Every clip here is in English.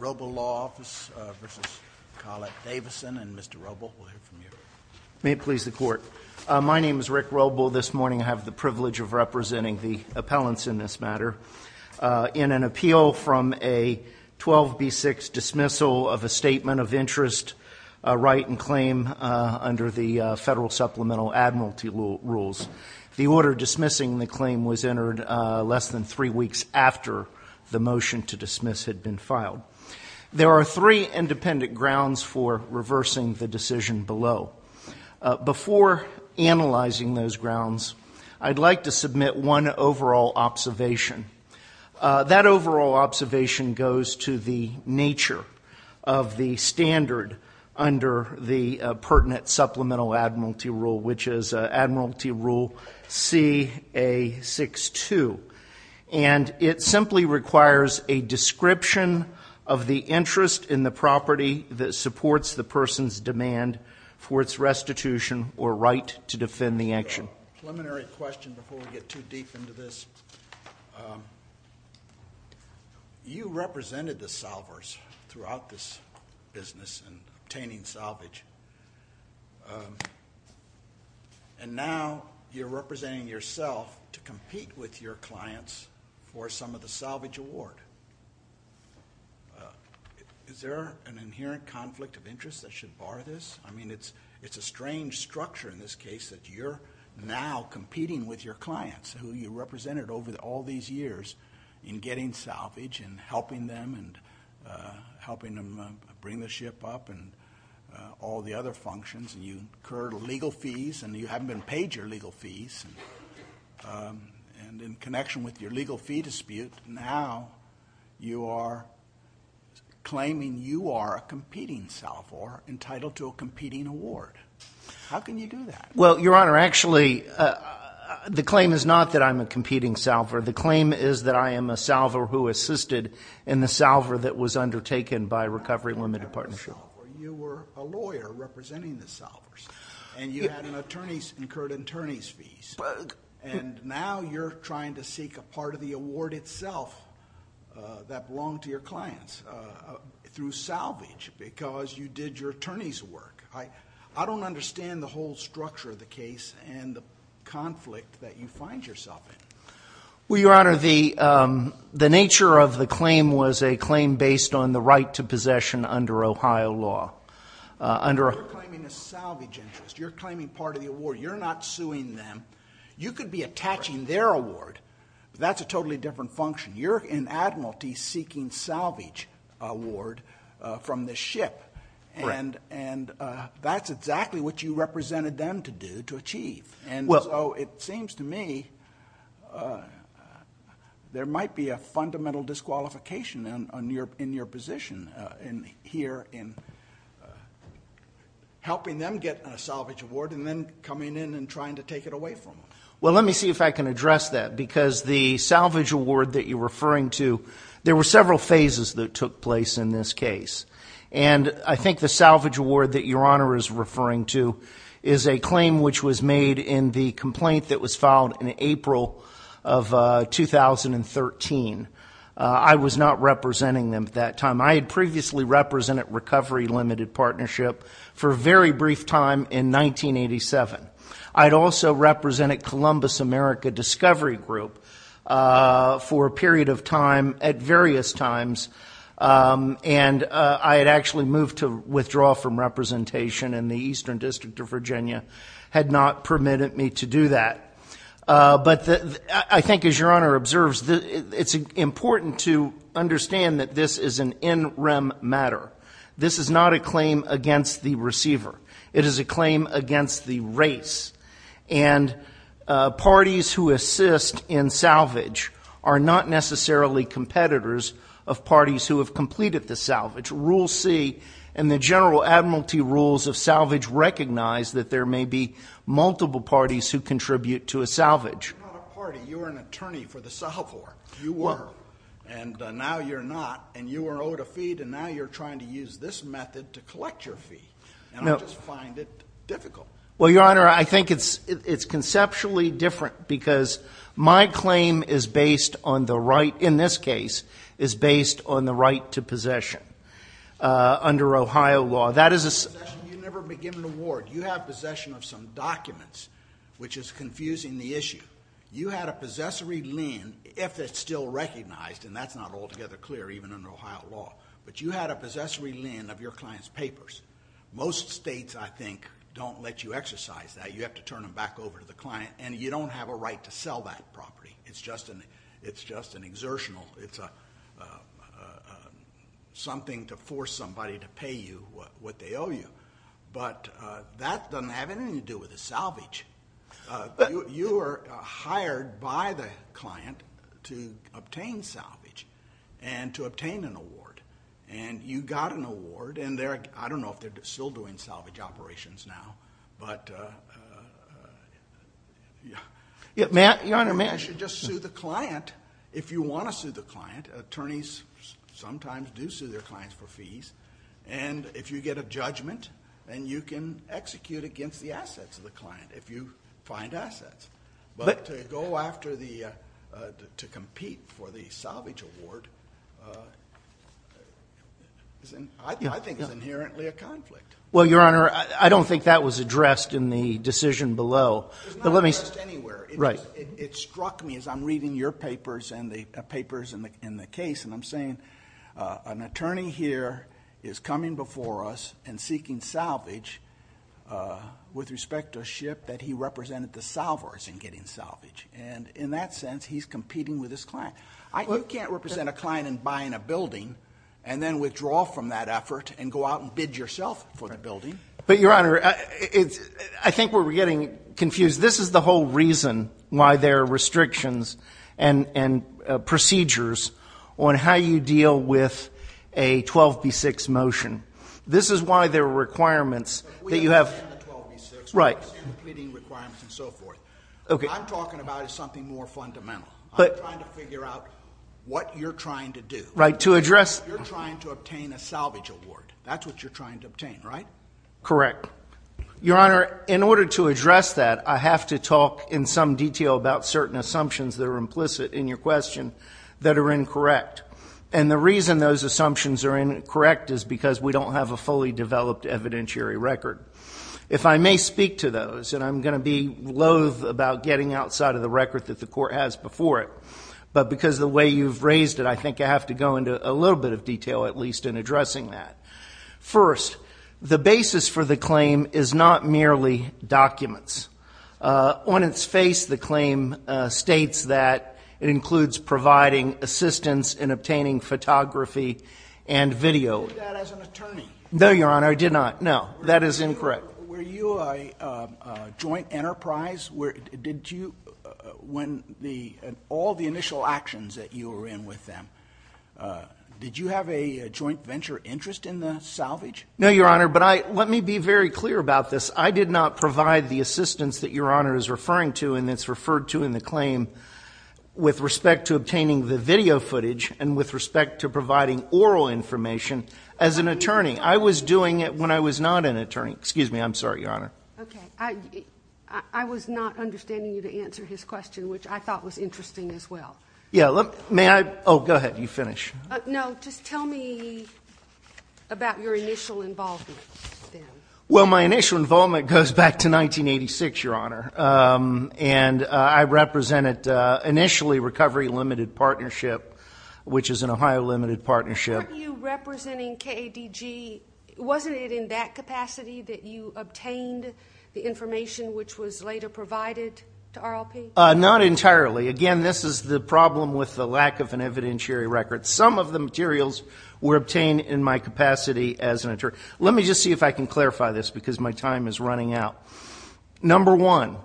Robol Law Office v. Collette-Davison My name is Rick Robol. This morning I have the privilege of representing the appellants in this matter in an appeal from a 12B6 dismissal of a statement of interest, a right in claim under the Federal Supplemental Admiralty Rules. The order dismissing the claim was entered less than three weeks after the motion to dismiss had been filed. There are three independent grounds for reversing the decision below. Before analyzing those grounds, I'd like to submit one overall observation. That overall observation goes to the nature of the standard under the pertinent Supplemental Admiralty Rule, which is Admiralty Rule CA62. And it simply requires a description of the interest in the property that supports the person's demand for its restitution or right to defend the action. Preliminary question before we get too deep into this. You represented the solvers throughout this business in obtaining salvage. And now you're representing yourself to compete with your clients for some of the salvage award. Is there an inherent conflict of interest that should bar this? I mean, it's a strange structure in this case that you're now competing with your clients, who you represented over all these years in getting salvage and helping them bring the ship up and all the other functions. And you incurred legal fees, and you haven't been paid your legal fees. And in connection with your legal fee dispute, now you are claiming you are a competing solver entitled to a competing award. How can you do that? Well, Your Honor, actually, the claim is not that I'm a competing solver. The claim is that I am a solver who assisted in the solver that was undertaken by Recovery Limited Partnership. You were a lawyer representing the solvers, and you had incurred attorney's fees. And now you're trying to seek a part of the award itself that belonged to your clients through salvage because you did your attorney's work. I don't understand the whole structure of the case and the conflict that you find yourself in. Well, Your Honor, the nature of the claim was a claim based on the right to possession under Ohio law. You're claiming a salvage interest. You're claiming part of the award. You're not suing them. You could be attaching their award, but that's a totally different function. You're in admiralty seeking salvage award from the ship, and that's exactly what you represented them to do to achieve. And so it seems to me there might be a fundamental disqualification in your position here in helping them get a salvage award and then coming in and trying to take it away from them. Well, let me see if I can address that because the salvage award that you're referring to, there were several phases that took place in this case. And I think the salvage award that Your Honor is referring to is a claim which was made in the complaint that was filed in April of 2013. I was not representing them at that time. I had previously represented Recovery Limited Partnership for a very brief time in 1987. I had also represented Columbus America Discovery Group for a period of time at various times, and I had actually moved to withdraw from representation, and the Eastern District of Virginia had not permitted me to do that. But I think as Your Honor observes, it's important to understand that this is an in rem matter. This is not a claim against the receiver. It is a claim against the race. And parties who assist in salvage are not necessarily competitors of parties who have completed the salvage. Rule C and the general admiralty rules of salvage recognize that there may be multiple parties who contribute to a salvage. You're not a party. You are an attorney for the salvage. You were. And now you're not. And you were owed a fee, and now you're trying to use this method to collect your fee. And I just find it difficult. Well, Your Honor, I think it's conceptually different because my claim is based on the right, in this case, is based on the right to possession under Ohio law. That is a... You never begin an award. You have possession of some documents, which is confusing the issue. You had a possessory lend, if it's still recognized, and that's not altogether clear, even under Ohio law. But you had a possessory lend of your client's papers. Most states, I think, don't let you exercise that. You have to turn them back over to the client, and you don't have a right to sell that property. It's just an exertional... It's something to force somebody to pay you what they owe you. But that doesn't have anything to do with the salvage. You were hired by the client to obtain salvage and to obtain an award, and you got an award. And I don't know if they're still doing salvage operations now, but... Your Honor, may I? You should just sue the client if you want to sue the client. Attorneys sometimes do sue their clients for fees. And if you get a judgment, then you can execute against the assets of the client. If you find assets. But to go after the... to compete for the salvage award, I think is inherently a conflict. Well, Your Honor, I don't think that was addressed in the decision below. It's not addressed anywhere. It struck me as I'm reading your papers and the papers in the case, and I'm saying an attorney here is coming before us and seeking salvage with respect to a ship that he represented the salvage in getting salvage. And in that sense, he's competing with his client. You can't represent a client in buying a building and then withdraw from that effort and go out and bid yourself for the building. But, Your Honor, I think we're getting confused. This is the whole reason why there are restrictions and procedures on how you deal with a 12B6 motion. This is why there are requirements that you have... We understand the 12B6. Right. We understand the pleading requirements and so forth. Okay. What I'm talking about is something more fundamental. I'm trying to figure out what you're trying to do. Right. To address... You're trying to obtain a salvage award. That's what you're trying to obtain, right? Correct. Your Honor, in order to address that, I have to talk in some detail about certain assumptions that are implicit in your question that are incorrect. And the reason those assumptions are incorrect is because we don't have a fully developed evidentiary record. If I may speak to those, and I'm going to be loathe about getting outside of the record that the court has before it, but because of the way you've raised it, I think I have to go into a little bit of detail, at least, in addressing that. First, the basis for the claim is not merely documents. On its face, the claim states that it includes providing assistance in obtaining photography and video. Did you do that as an attorney? No, Your Honor. I did not. No. That is incorrect. Were you a joint enterprise? Did you, when all the initial actions that you were in with them, did you have a joint venture interest in the salvage? No, Your Honor. But let me be very clear about this. I did not provide the assistance that Your Honor is referring to and that's referred to in the claim with respect to obtaining the video footage and with respect to providing oral information as an attorney. I was doing it when I was not an attorney. Excuse me. I'm sorry, Your Honor. Okay. I was not understanding you to answer his question, which I thought was interesting as well. Yeah. May I? You finish. No. Just tell me about your initial involvement with them. Well, my initial involvement goes back to 1986, Your Honor, and I represented initially Recovery Limited Partnership, which is an Ohio limited partnership. Weren't you representing KADG? Wasn't it in that capacity that you obtained the information which was later provided to RLP? Not entirely. Again, this is the problem with the lack of an evidentiary record. Some of the materials were obtained in my capacity as an attorney. Let me just see if I can clarify this because my time is running out. Number one,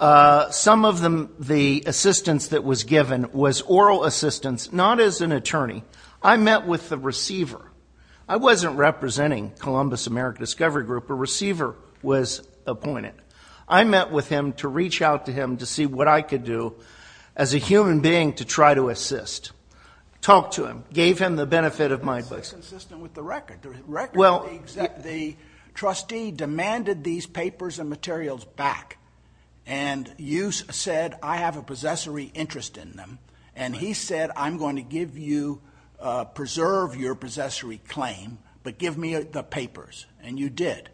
some of the assistance that was given was oral assistance, not as an attorney. I met with the receiver. I wasn't representing Columbus American Discovery Group. A receiver was appointed. I met with him to reach out to him to see what I could do as a human being to try to assist. Talked to him. Gave him the benefit of my words. That's inconsistent with the record. The trustee demanded these papers and materials back, and you said, I have a possessory interest in them, and he said, I'm going to preserve your possessory claim, but give me the papers, and you did.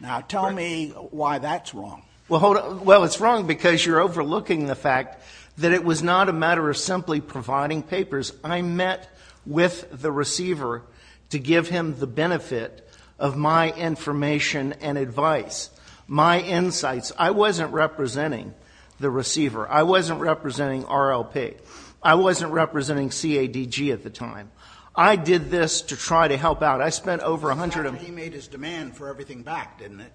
Now tell me why that's wrong. Well, it's wrong because you're overlooking the fact that it was not a matter of simply providing papers. I met with the receiver to give him the benefit of my information and advice, my insights. I wasn't representing the receiver. I wasn't representing RLP. I wasn't representing CADG at the time. I did this to try to help out. I spent over a hundred of them. He made his demand for everything back, didn't he?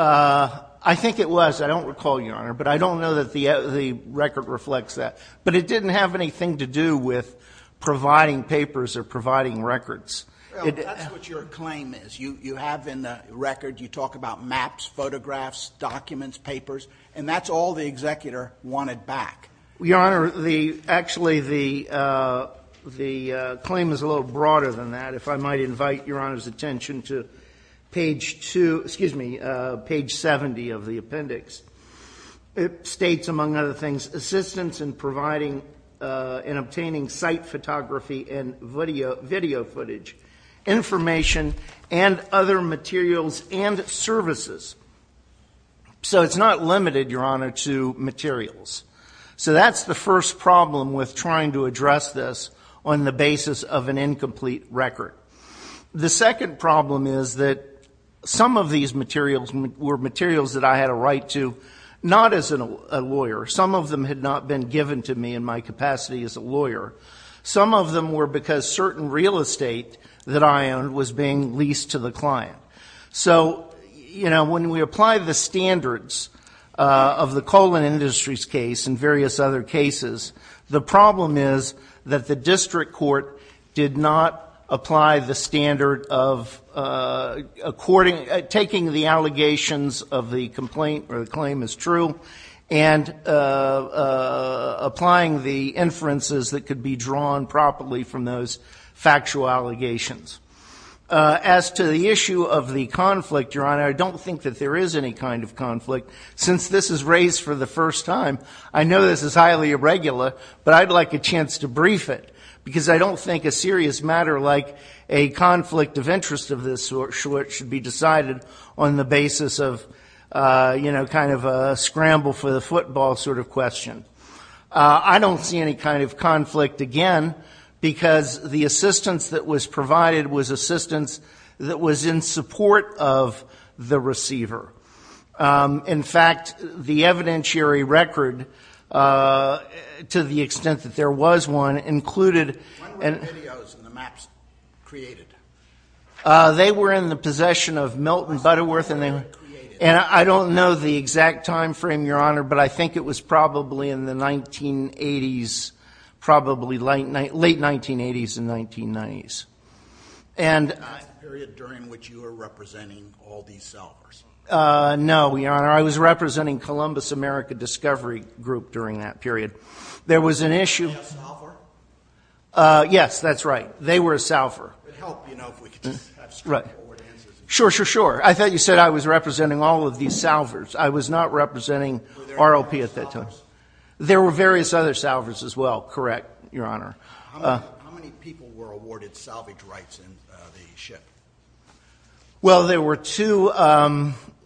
I think it was. I don't recall, Your Honor, but I don't know that the record reflects that. But it didn't have anything to do with providing papers or providing records. That's what your claim is. You have in the record, you talk about maps, photographs, documents, papers, and that's all the executor wanted back. Your Honor, actually the claim is a little broader than that. If I might invite Your Honor's attention to page 70 of the appendix. It states, among other things, assistance in providing and obtaining site photography and video footage, information, and other materials and services. So it's not limited, Your Honor, to materials. So that's the first problem with trying to address this on the basis of an incomplete record. The second problem is that some of these materials were materials that I had a right to, not as a lawyer. Some of them had not been given to me in my capacity as a lawyer. Some of them were because certain real estate that I owned was being leased to the client. So, you know, when we apply the standards of the Coleman Industries case and various other cases, the problem is that the district court did not apply the standard of taking the allegations of the complaint, or the claim is true, and applying the inferences that could be drawn properly from those factual allegations. As to the issue of the conflict, Your Honor, I don't think that there is any kind of conflict. Since this is raised for the first time, I know this is highly irregular, but I'd like a chance to brief it because I don't think a serious matter like a conflict of interest of this sort should be decided on the basis of, you know, kind of a scramble for the football sort of question. I don't see any kind of conflict, again, because the assistance that was provided was assistance that was in support of the receiver. In fact, the evidentiary record, to the extent that there was one, included... When were the videos and the maps created? They were in the possession of Milton Butterworth, and I don't know the exact timeframe, Your Honor, but I think it was probably in the 1980s, probably late 1980s and 1990s. The period during which you were representing all these solvers? No, Your Honor, I was representing Columbus America Discovery Group during that period. There was an issue... Were they a solver? Yes, that's right. They were a solver. It would help, you know, if we could just have straightforward answers. Sure, sure, sure. I thought you said I was representing all of these solvers. I was not representing ROP at that time. Were there other solvers? There were various other solvers as well, correct, Your Honor. How many people were awarded salvage rights in the ship? Well, there were two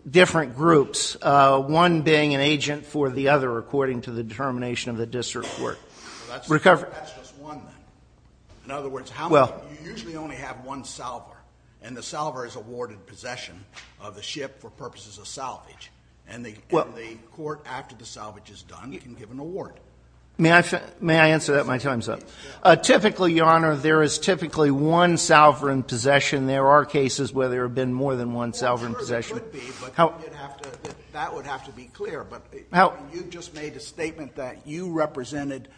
different groups, one being an agent for the other, according to the determination of the district court. That's just one, then. In other words, you usually only have one solver, and the solver is awarded possession of the ship for purposes of salvage, and the court, after the salvage is done, can give an award. May I answer that? My time's up. Typically, Your Honor, there is typically one solver in possession. There are cases where there have been more than one solver in possession. Sure, there could be, but that would have to be clear. You just made a statement that you represented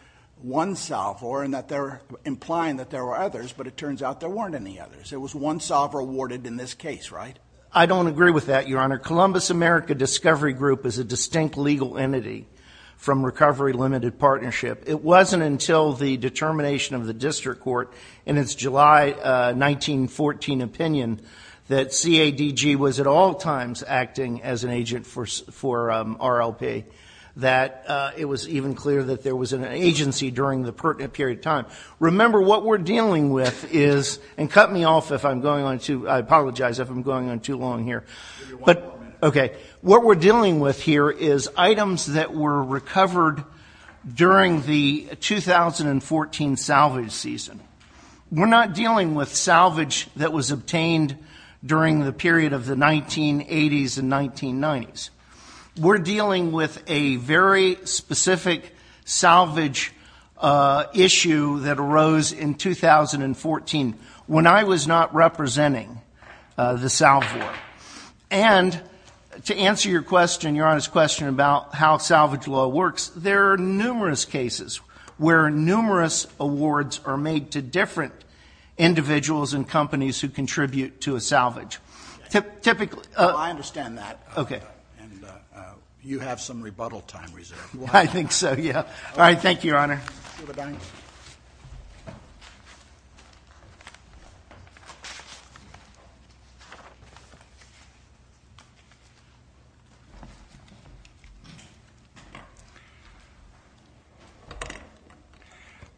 one solver and that they're implying that there were others, but it turns out there weren't any others. There was one solver awarded in this case, right? I don't agree with that, Your Honor. Columbus America Discovery Group is a distinct legal entity from Recovery Limited Partnership. It wasn't until the determination of the district court in its July 1914 opinion that CADG was at all times acting as an agent for RLP that it was even clear that there was an agency during that period of time. Remember, what we're dealing with is – and cut me off if I'm going on too – I apologize if I'm going on too long here. Give me one more minute. Okay. What we're dealing with here is items that were recovered during the 2014 salvage season. We're not dealing with salvage that was obtained during the period of the 1980s and 1990s. We're dealing with a very specific salvage issue that arose in 2014 when I was not representing the salve board. And to answer your question, Your Honor's question about how salvage law works, there are numerous cases where numerous awards are made to different individuals and companies who contribute to a salvage. I understand that. Okay. And you have some rebuttal time reserved. I think so, yeah. All right. Thank you, Your Honor.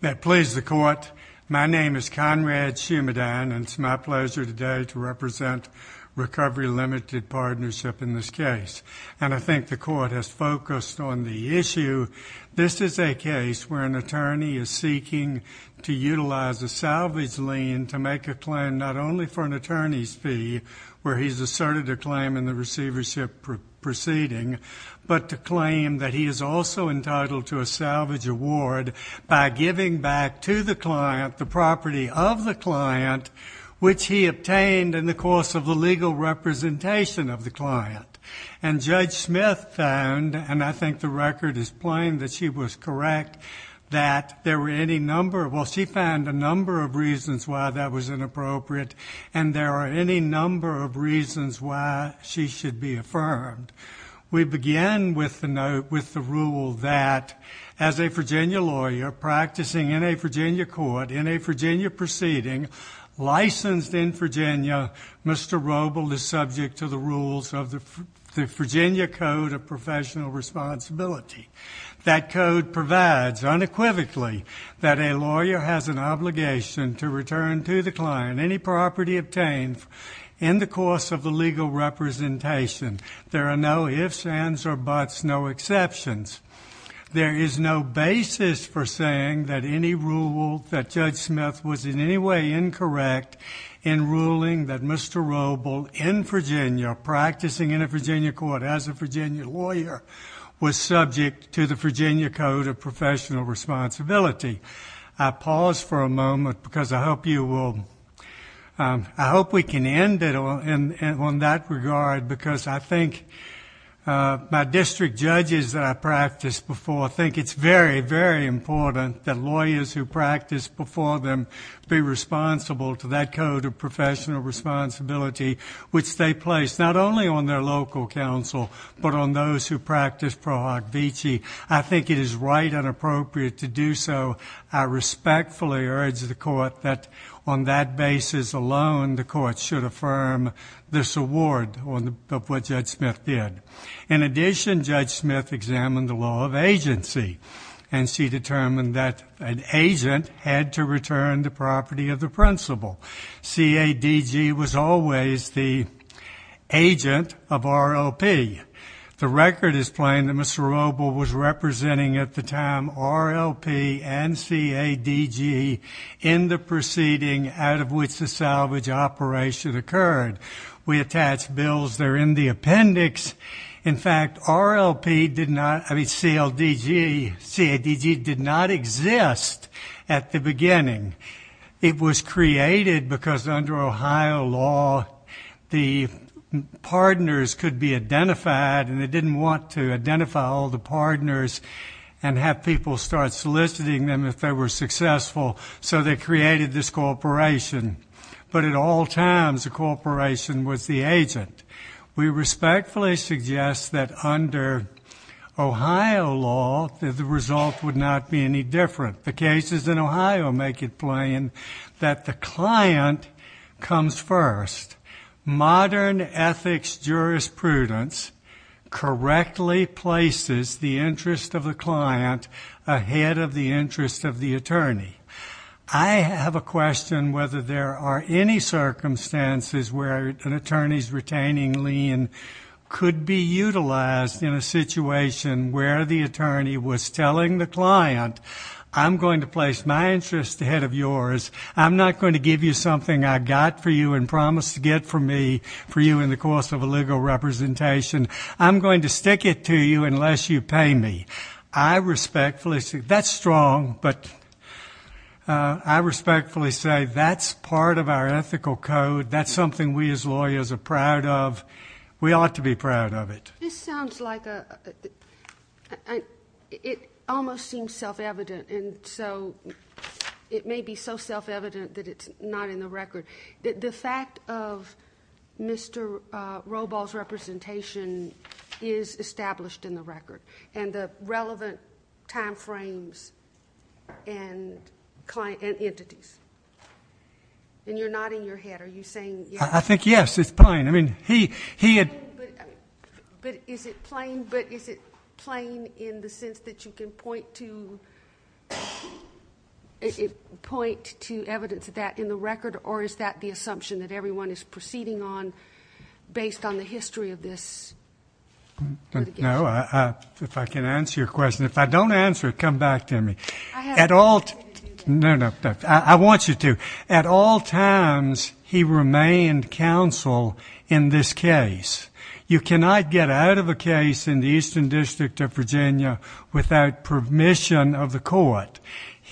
That please the court. My name is Conrad Shumidan, and it's my pleasure today to represent Recovery Limited Partnership in this case. And I think the court has focused on the issue. This is a case where an attorney is seeking to utilize a salvage lien to make a claim not only for an attorney's fee, where he's asserted a claim in the receivership proceeding, but to claim that he is also entitled to a salvage award by giving back to the client the property of the client, which he obtained in the course of the legal representation of the client. And Judge Smith found, and I think the record is plain that she was correct, that there were any number of, well, she found a number of reasons why that was inappropriate, and there are any number of reasons why she should be affirmed. We begin with the rule that as a Virginia lawyer practicing in a Virginia court, in a Virginia proceeding, licensed in Virginia, Mr. Roble is subject to the rules of the Virginia Code of Professional Responsibility. That code provides unequivocally that a lawyer has an obligation to return to the client any property obtained in the course of the legal representation. There are no ifs, ands, or buts, no exceptions. There is no basis for saying that any rule, that Judge Smith was in any way incorrect in ruling that Mr. Roble in Virginia, practicing in a Virginia court as a Virginia lawyer, was subject to the Virginia Code of Professional Responsibility. I pause for a moment because I hope you will, I hope we can end it on that regard because I think my district judges that I practiced before think it's very, very important that lawyers who practice before them be responsible to that code of professional responsibility, which they place not only on their local counsel, but on those who practice Pro Hoc Vici. I think it is right and appropriate to do so. I respectfully urge the court that on that basis alone, the court should affirm this award of what Judge Smith did. In addition, Judge Smith examined the law of agency, and she determined that an agent had to return the property of the principal. CADG was always the agent of ROP. The record is plain that Mr. Roble was representing at the time RLP and CADG in the proceeding out of which the salvage operation occurred. We attach bills there in the appendix. In fact, RLP did not, I mean, CLDG, CADG did not exist at the beginning. It was created because under Ohio law, the partners could be identified, and they didn't want to identify all the partners and have people start soliciting them if they were successful, so they created this corporation. But at all times, the corporation was the agent. We respectfully suggest that under Ohio law, the result would not be any different. The cases in Ohio make it plain that the client comes first. Modern ethics jurisprudence correctly places the interest of the client ahead of the interest of the attorney. I have a question whether there are any circumstances where an attorney's retaining lien could be utilized in a situation where the attorney was telling the client, I'm going to place my interest ahead of yours. I'm not going to give you something I got for you and promised to get for me for you in the course of a legal representation. I'm going to stick it to you unless you pay me. I respectfully say that's strong, but I respectfully say that's part of our ethical code. That's something we as lawyers are proud of. We ought to be proud of it. This sounds like it almost seems self-evident, and so it may be so self-evident that it's not in the record. The fact of Mr. Roball's representation is established in the record, and the relevant time frames and entities. And you're nodding your head. I think, yes, it's fine. But is it plain in the sense that you can point to evidence of that in the record, or is that the assumption that everyone is proceeding on based on the history of this litigation? No. If I can answer your question. If I don't answer it, come back to me. I have to do that. No, no. I want you to. At all times, he remained counsel in this case. You cannot get out of a case in the Eastern District of Virginia without permission of the court.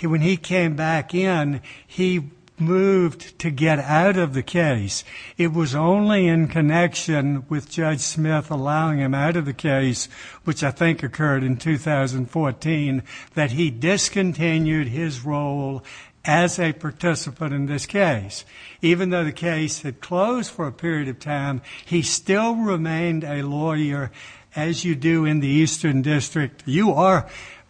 When he came back in, he moved to get out of the case. It was only in connection with Judge Smith allowing him out of the case, which I think occurred in 2014, that he discontinued his role as a participant in this case. Even though the case had closed for a period of time, he still remained a lawyer, as you do in the Eastern District.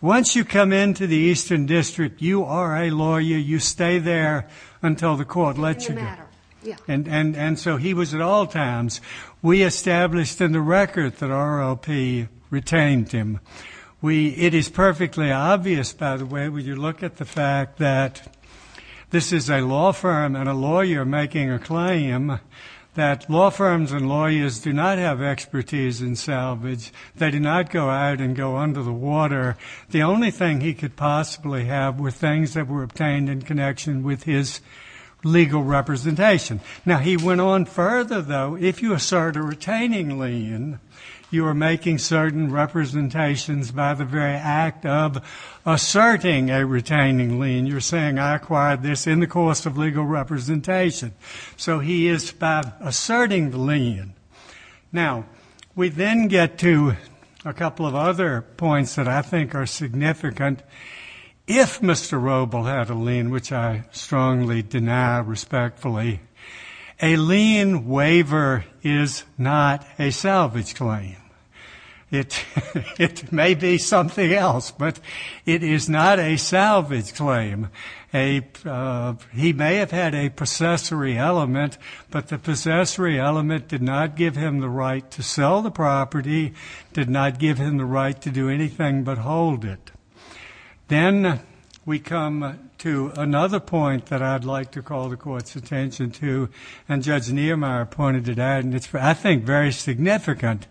Once you come into the Eastern District, you are a lawyer. You stay there until the court lets you go. And so he was at all times. We established in the record that ROP retained him. It is perfectly obvious, by the way, when you look at the fact that this is a law firm and a lawyer making a claim, that law firms and lawyers do not have expertise in salvage. They do not go out and go under the water. The only thing he could possibly have were things that were obtained in connection with his legal representation. Now, he went on further, though. If you assert a retaining lien, you are making certain representations by the very act of asserting a retaining lien. You're saying, I acquired this in the course of legal representation. So he is by asserting the lien. Now, we then get to a couple of other points that I think are significant. If Mr. Robel had a lien, which I strongly deny respectfully, a lien waiver is not a salvage claim. It may be something else, but it is not a salvage claim. He may have had a possessory element, but the possessory element did not give him the right to sell the property, did not give him the right to do anything but hold it. Then we come to another point that I'd like to call the Court's attention to, and Judge Niemeyer pointed it out, and it's, I think, very significant.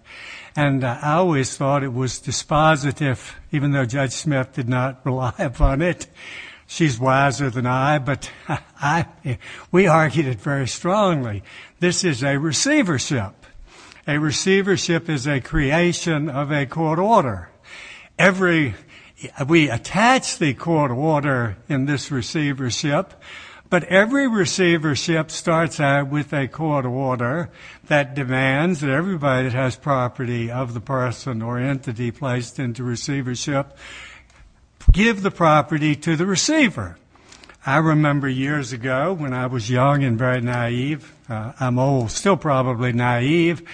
And I always thought it was dispositive, even though Judge Smith did not rely upon it. She's wiser than I, but we argued it very strongly. This is a receivership. A receivership is a creation of a court order. We attach the court order in this receivership, but every receivership starts out with a court order that demands that everybody that has property of the person or entity placed into receivership give the property to the receiver. I remember years ago when I was young and very naive, I'm old, still probably naive,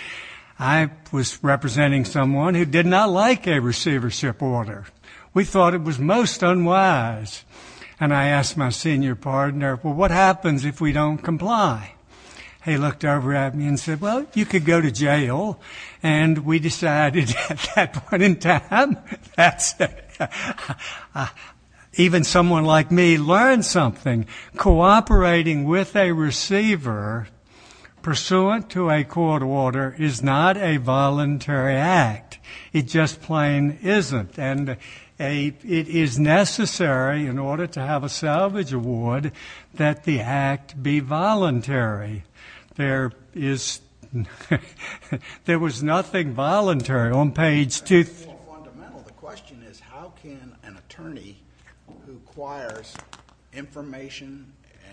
I was representing someone who did not like a receivership order. We thought it was most unwise, and I asked my senior partner, well, what happens if we don't comply? He looked over at me and said, well, you could go to jail, and we decided at that point in time that even someone like me learned something. Cooperating with a receiver pursuant to a court order is not a voluntary act. It just plain isn't, and it is necessary in order to have a salvage award that the act be voluntary. There was nothing voluntary on page 2. The question is how can an attorney who acquires information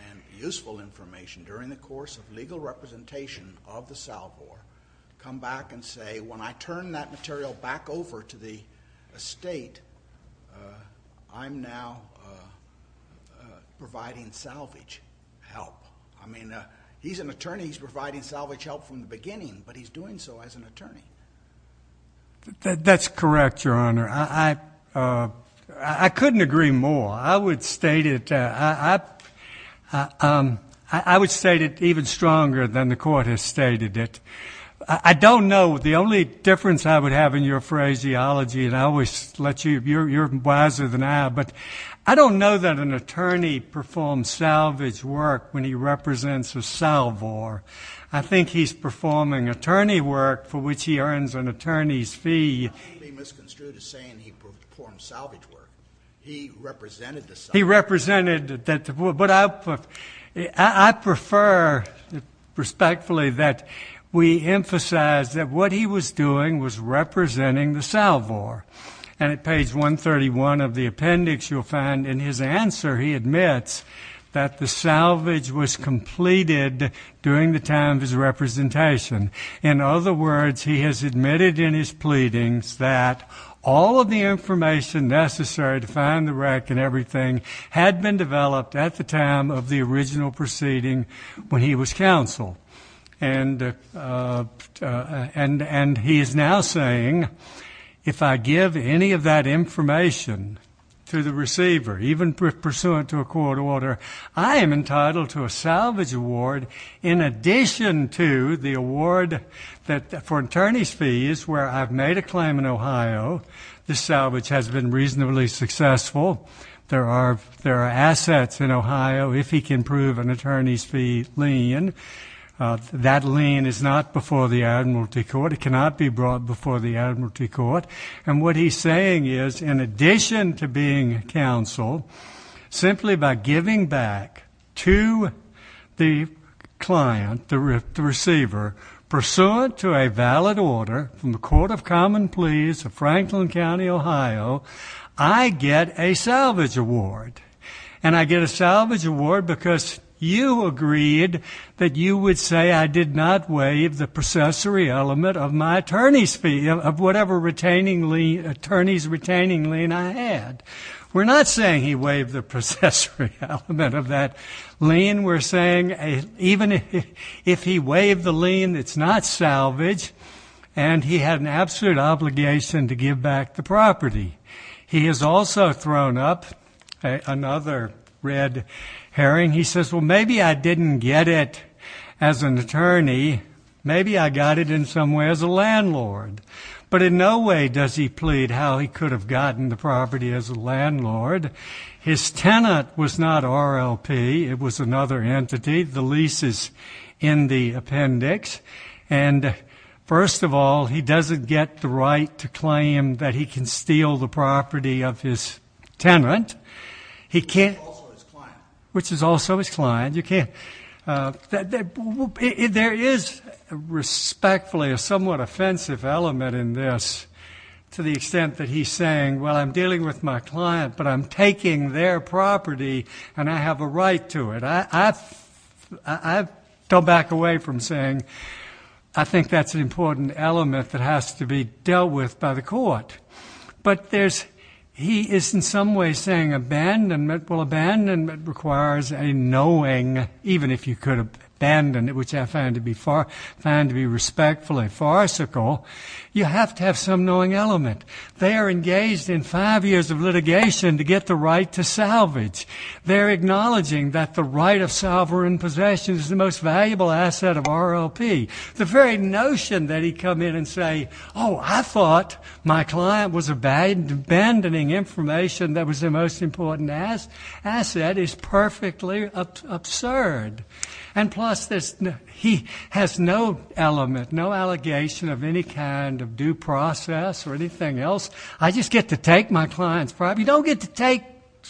and useful information during the course of legal representation of the salvor come back and say, when I turn that material back over to the estate, I'm now providing salvage help. I mean, he's an attorney. He's providing salvage help from the beginning, but he's doing so as an attorney. That's correct, Your Honor. I couldn't agree more. I would state it even stronger than the court has stated it. I don't know. The only difference I would have in your phraseology, and I always let you, you're wiser than I am, but I don't know that an attorney performs salvage work when he represents a salvor. I think he's performing attorney work for which he earns an attorney's fee. I'm not being misconstrued as saying he performed salvage work. He represented the salvor. He represented that. But I prefer respectfully that we emphasize that what he was doing was representing the salvor. And at page 131 of the appendix, you'll find in his answer he admits that the salvage was completed during the time of his representation. In other words, he has admitted in his pleadings that all of the information necessary to find the wreck and everything had been developed at the time of the original proceeding when he was counsel. And he is now saying, if I give any of that information to the receiver, even pursuant to a court order, I am entitled to a salvage award in addition to the award for attorney's fees where I've made a claim in Ohio. The salvage has been reasonably successful. There are assets in Ohio, if he can prove an attorney's fee lien. That lien is not before the admiralty court. It cannot be brought before the admiralty court. And what he's saying is, in addition to being counsel, simply by giving back to the client, the receiver, pursuant to a valid order from the Court of Common Pleas of Franklin County, Ohio, I get a salvage award. And I get a salvage award because you agreed that you would say I did not waive the processory element of my attorney's fee, of whatever attorney's retaining lien I had. We're not saying he waived the processory element of that lien. We're saying even if he waived the lien, it's not salvage, and he had an absolute obligation to give back the property. He has also thrown up another red herring. He says, well, maybe I didn't get it as an attorney. Maybe I got it in some way as a landlord. But in no way does he plead how he could have gotten the property as a landlord. His tenant was not RLP. It was another entity. The lease is in the appendix. And first of all, he doesn't get the right to claim that he can steal the property of his tenant. He can't. Which is also his client. Which is also his client. You can't. There is, respectfully, a somewhat offensive element in this to the extent that he's saying, well, I'm dealing with my client, but I'm taking their property, and I have a right to it. I don't back away from saying, I think that's an important element that has to be dealt with by the court. But he is, in some way, saying abandonment. Well, abandonment requires a knowing, even if you could abandon it, which I find to be respectfully farcical. You have to have some knowing element. They are engaged in five years of litigation to get the right to salvage. They're acknowledging that the right of sovereign possession is the most valuable asset of RLP. The very notion that he'd come in and say, oh, I thought my client was abandoning information that was their most important asset is perfectly absurd. And plus, he has no element, no allegation of any kind of due process or anything else. I just get to take my client's property. You don't get to take,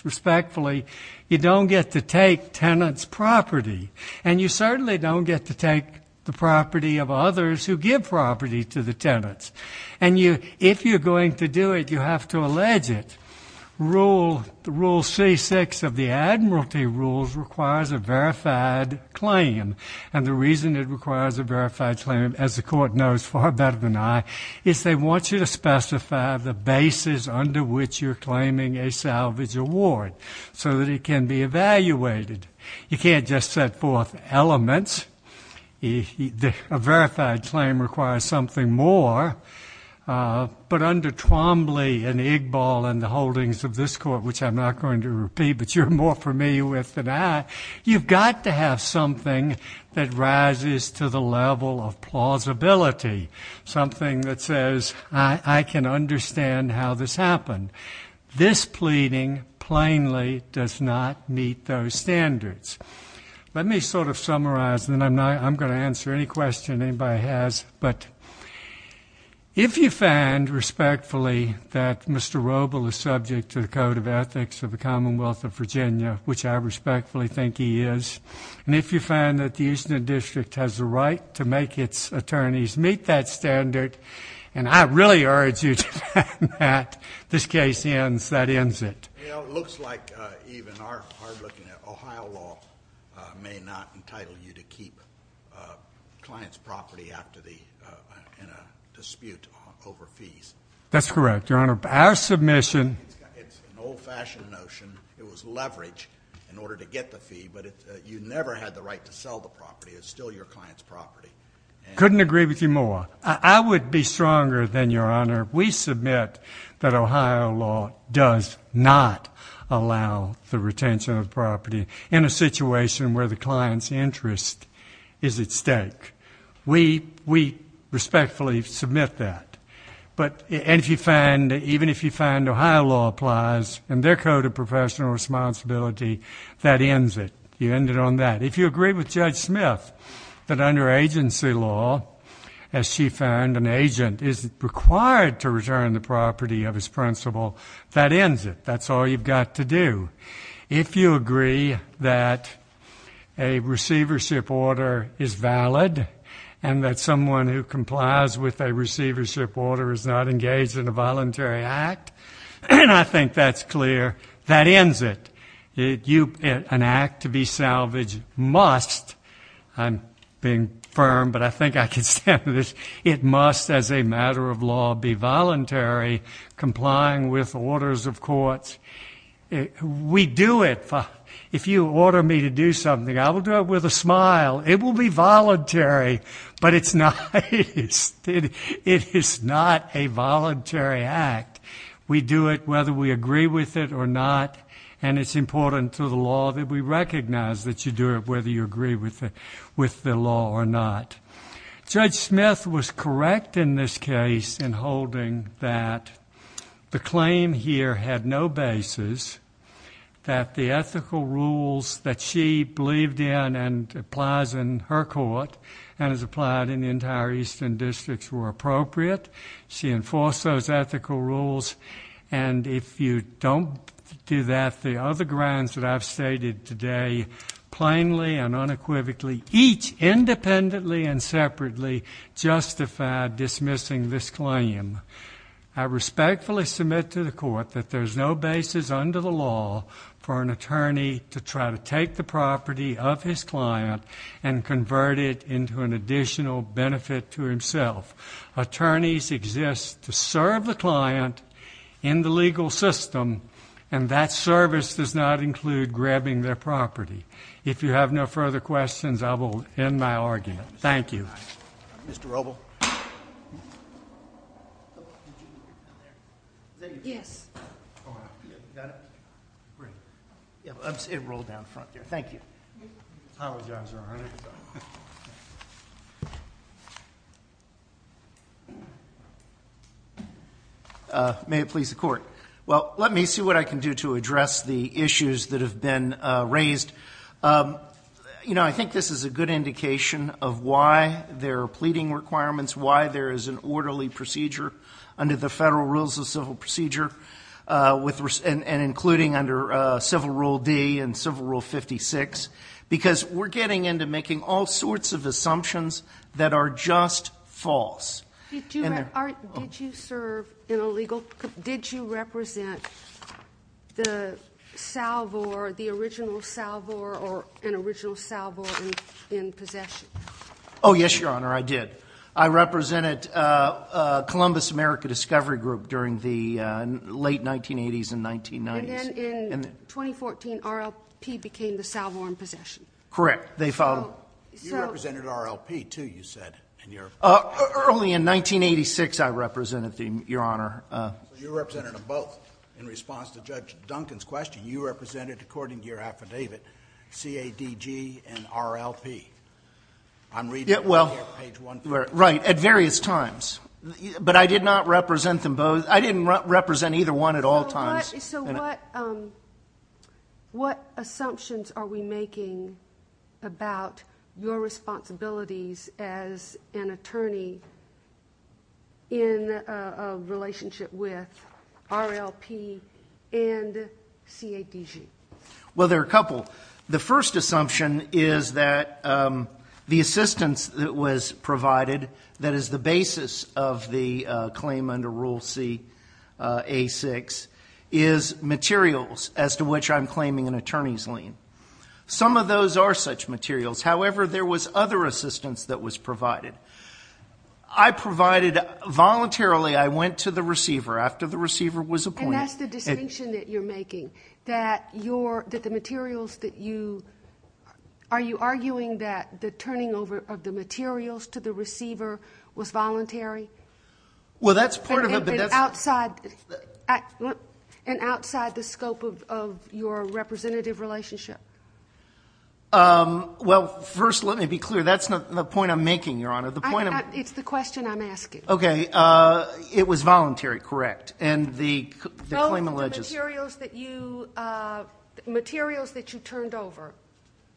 respectfully, you don't get to take tenants' property. And you certainly don't get to take the property of others who give property to the tenants. And if you're going to do it, you have to allege it. Rule C-6 of the Admiralty Rules requires a verified claim. And the reason it requires a verified claim, as the court knows far better than I, is they want you to specify the basis under which you're claiming a salvage award so that it can be evaluated. You can't just set forth elements. A verified claim requires something more. But under Twombly and Igbal and the holdings of this court, which I'm not going to repeat but you're more familiar with than I, you've got to have something that rises to the level of plausibility, something that says, I can understand how this happened. This pleading, plainly, does not meet those standards. Let me sort of summarize, and then I'm going to answer any question anybody has. But if you find, respectfully, that Mr. Robel is subject to the Code of Ethics of the Commonwealth of Virginia, which I respectfully think he is, and if you find that the Eastman District has the right to make its attorneys meet that standard, and I really urge you to find that, this case ends, that ends it. Well, it looks like, even hard-looking, Ohio law may not entitle you to keep a client's property in a dispute over fees. That's correct, Your Honor. It's an old-fashioned notion. It was leverage in order to get the fee, but you never had the right to sell the property. It's still your client's property. Couldn't agree with you more. I would be stronger than Your Honor. We submit that Ohio law does not allow the retention of property in a situation where the client's interest is at stake. We respectfully submit that. And even if you find Ohio law applies in their Code of Professional Responsibility, that ends it. You end it on that. If you agree with Judge Smith that under agency law, as she found, an agent is required to return the property of his principal, that ends it. That's all you've got to do. If you agree that a receivership order is valid and that someone who complies with a receivership order is not engaged in a voluntary act, I think that's clear. That ends it. An act to be salvaged must, I'm being firm, but I think I can stand for this, it must as a matter of law be voluntary, complying with orders of courts. We do it. If you order me to do something, I will do it with a smile. It will be voluntary, but it is not a voluntary act. We do it whether we agree with it or not, and it's important to the law that we recognize that you do it whether you agree with the law or not. Judge Smith was correct in this case in holding that the claim here had no basis, that the ethical rules that she believed in and applies in her court and has applied in the entire eastern districts were appropriate. She enforced those ethical rules. If you don't do that, the other grounds that I've stated today plainly and unequivocally, each independently and separately, justify dismissing this claim. I respectfully submit to the court that there's no basis under the law for an attorney to try to take the property of his client and convert it into an additional benefit to himself. Attorneys exist to serve the client in the legal system, and that service does not include grabbing their property. If you have no further questions, I will end my argument. Thank you. Mr. Roble. May it please the Court. Well, let me see what I can do to address the issues that have been raised. You know, I think this is a good indication of why there are pleading requirements, why there is an orderly procedure under the Federal Rules of Civil Procedure, and including under Civil Rule D and Civil Rule 56, because we're getting into making all sorts of assumptions that are just false. Did you serve in a legal group? Did you represent the original salvor or an original salvor in possession? Oh, yes, Your Honor, I did. I represented Columbus America Discovery Group during the late 1980s and 1990s. And then in 2014, RLP became the salvor in possession? Correct. You represented RLP, too, you said. Early in 1986, I represented them, Your Honor. You represented them both. In response to Judge Duncan's question, you represented, according to your affidavit, CADG and RLP. I'm reading it here, page 1. Right, at various times. But I did not represent them both. I didn't represent either one at all times. So what assumptions are we making about your responsibilities as an attorney in a relationship with RLP and CADG? Well, there are a couple. The first assumption is that the assistance that was provided, that is the basis of the claim under Rule CA-6, is materials as to which I'm claiming an attorney's lien. Some of those are such materials. However, there was other assistance that was provided. I provided voluntarily. I went to the receiver after the receiver was appointed. That's the distinction that you're making, that the materials that you are you arguing that the turning over of the materials to the receiver was voluntary? Well, that's part of it. And outside the scope of your representative relationship? Well, first, let me be clear. That's not the point I'm making, Your Honor. It's the question I'm asking. Okay. It was voluntary, correct. Both the materials that you turned over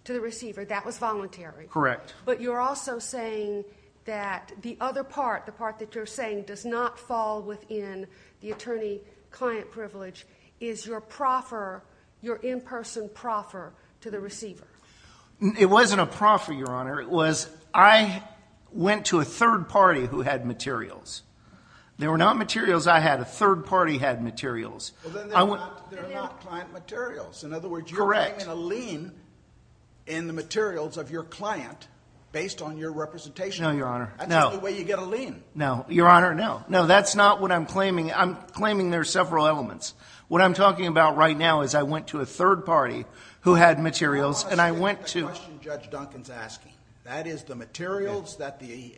to the receiver, that was voluntary. Correct. But you're also saying that the other part, the part that you're saying does not fall within the attorney-client privilege, is your proffer, your in-person proffer to the receiver. It wasn't a proffer, Your Honor. It was I went to a third party who had materials. They were not materials I had. A third party had materials. Well, then they're not client materials. In other words, you're claiming a lien in the materials of your client based on your representation. No, Your Honor, no. That's the only way you get a lien. No, Your Honor, no. No, that's not what I'm claiming. I'm claiming there are several elements. What I'm talking about right now is I went to a third party who had materials and I went to them. That is the materials that the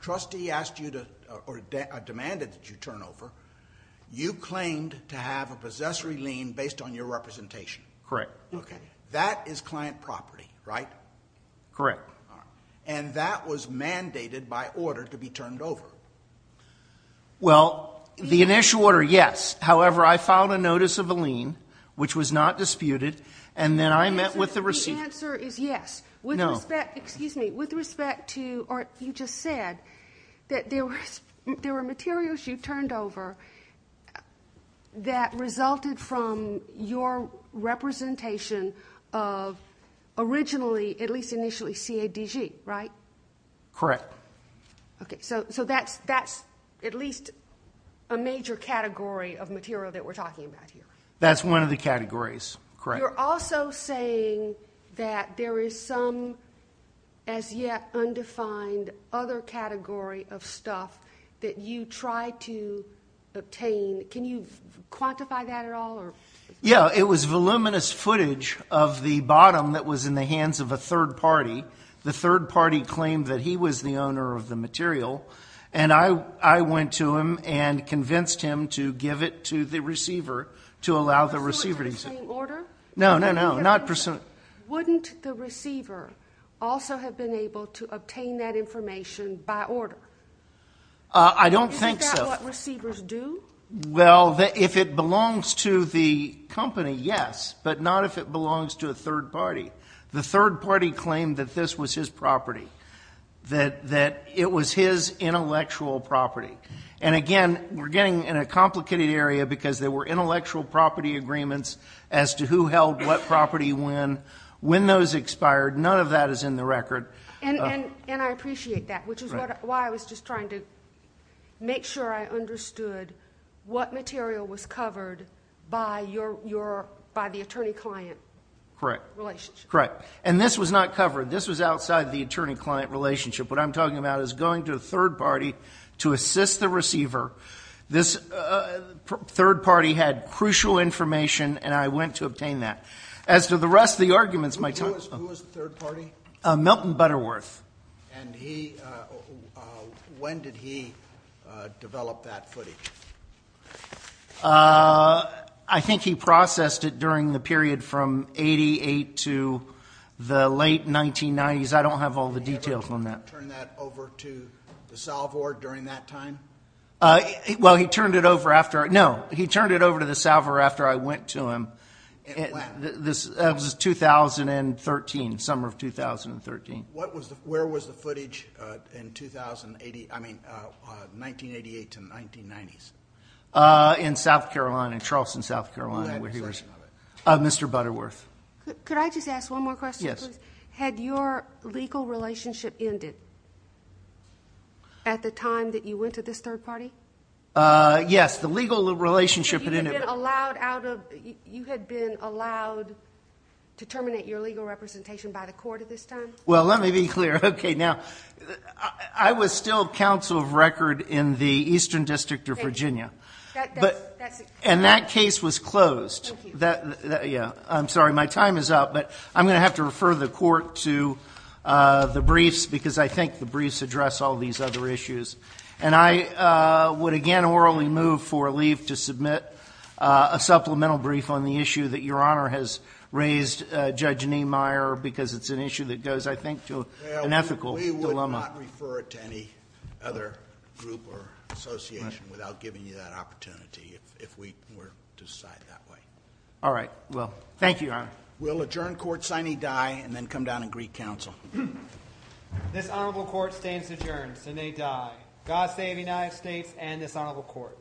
trustee asked you to or demanded that you turn over. You claimed to have a possessory lien based on your representation. Correct. That is client property, right? Correct. And that was mandated by order to be turned over. Well, the initial order, yes. However, I filed a notice of a lien, which was not disputed, and then I met with the receiver. Your answer is yes. No. With respect to what you just said, that there were materials you turned over that resulted from your representation of originally, at least initially, CADG, right? Correct. Okay, so that's at least a major category of material that we're talking about here. That's one of the categories, correct. You're also saying that there is some as yet undefined other category of stuff that you tried to obtain. Can you quantify that at all? Yeah, it was voluminous footage of the bottom that was in the hands of a third party. The third party claimed that he was the owner of the material, and I went to him and convinced him to give it to the receiver to allow the receiver to receive it. Is that the same order? No, no, no. Wouldn't the receiver also have been able to obtain that information by order? I don't think so. Isn't that what receivers do? Well, if it belongs to the company, yes, but not if it belongs to a third party. The third party claimed that this was his property, that it was his intellectual property. Again, we're getting in a complicated area because there were intellectual property agreements as to who held what property when, when those expired. None of that is in the record. I appreciate that, which is why I was just trying to make sure I understood what material was covered by the attorney-client relationship. Correct, and this was not covered. This was outside the attorney-client relationship. What I'm talking about is going to a third party to assist the receiver. This third party had crucial information, and I went to obtain that. As to the rest of the arguments, my time is up. Who was the third party? Milton Butterworth. And when did he develop that footage? I think he processed it during the period from 88 to the late 1990s. I don't have all the details on that. Did he ever turn that over to the salvor during that time? Well, he turned it over after. No, he turned it over to the salvor after I went to him. And when? That was 2013, summer of 2013. Where was the footage in 1988 to the 1990s? In South Carolina, Charleston, South Carolina. Who had a section of it? Mr. Butterworth. Could I just ask one more question, please? Yes. Had your legal relationship ended at the time that you went to this third party? Yes, the legal relationship had ended. You had been allowed to terminate your legal representation by the court at this time? Well, let me be clear. Okay, now, I was still counsel of record in the Eastern District of Virginia. And that case was closed. Thank you. Yeah. I'm sorry. My time is up, but I'm going to have to refer the court to the briefs because I think the briefs address all these other issues. And I would, again, orally move for a leave to submit a supplemental brief on the issue that Your Honor has raised, Judge Niemeyer, because it's an issue that goes, I think, to an ethical dilemma. Well, we would not refer it to any other group or association without giving you that opportunity if we were to decide that way. All right. Thank you, Your Honor. We'll adjourn court signing die and then come down and greet counsel. This honorable court stands adjourned. Sine die. God save the United States and this honorable court.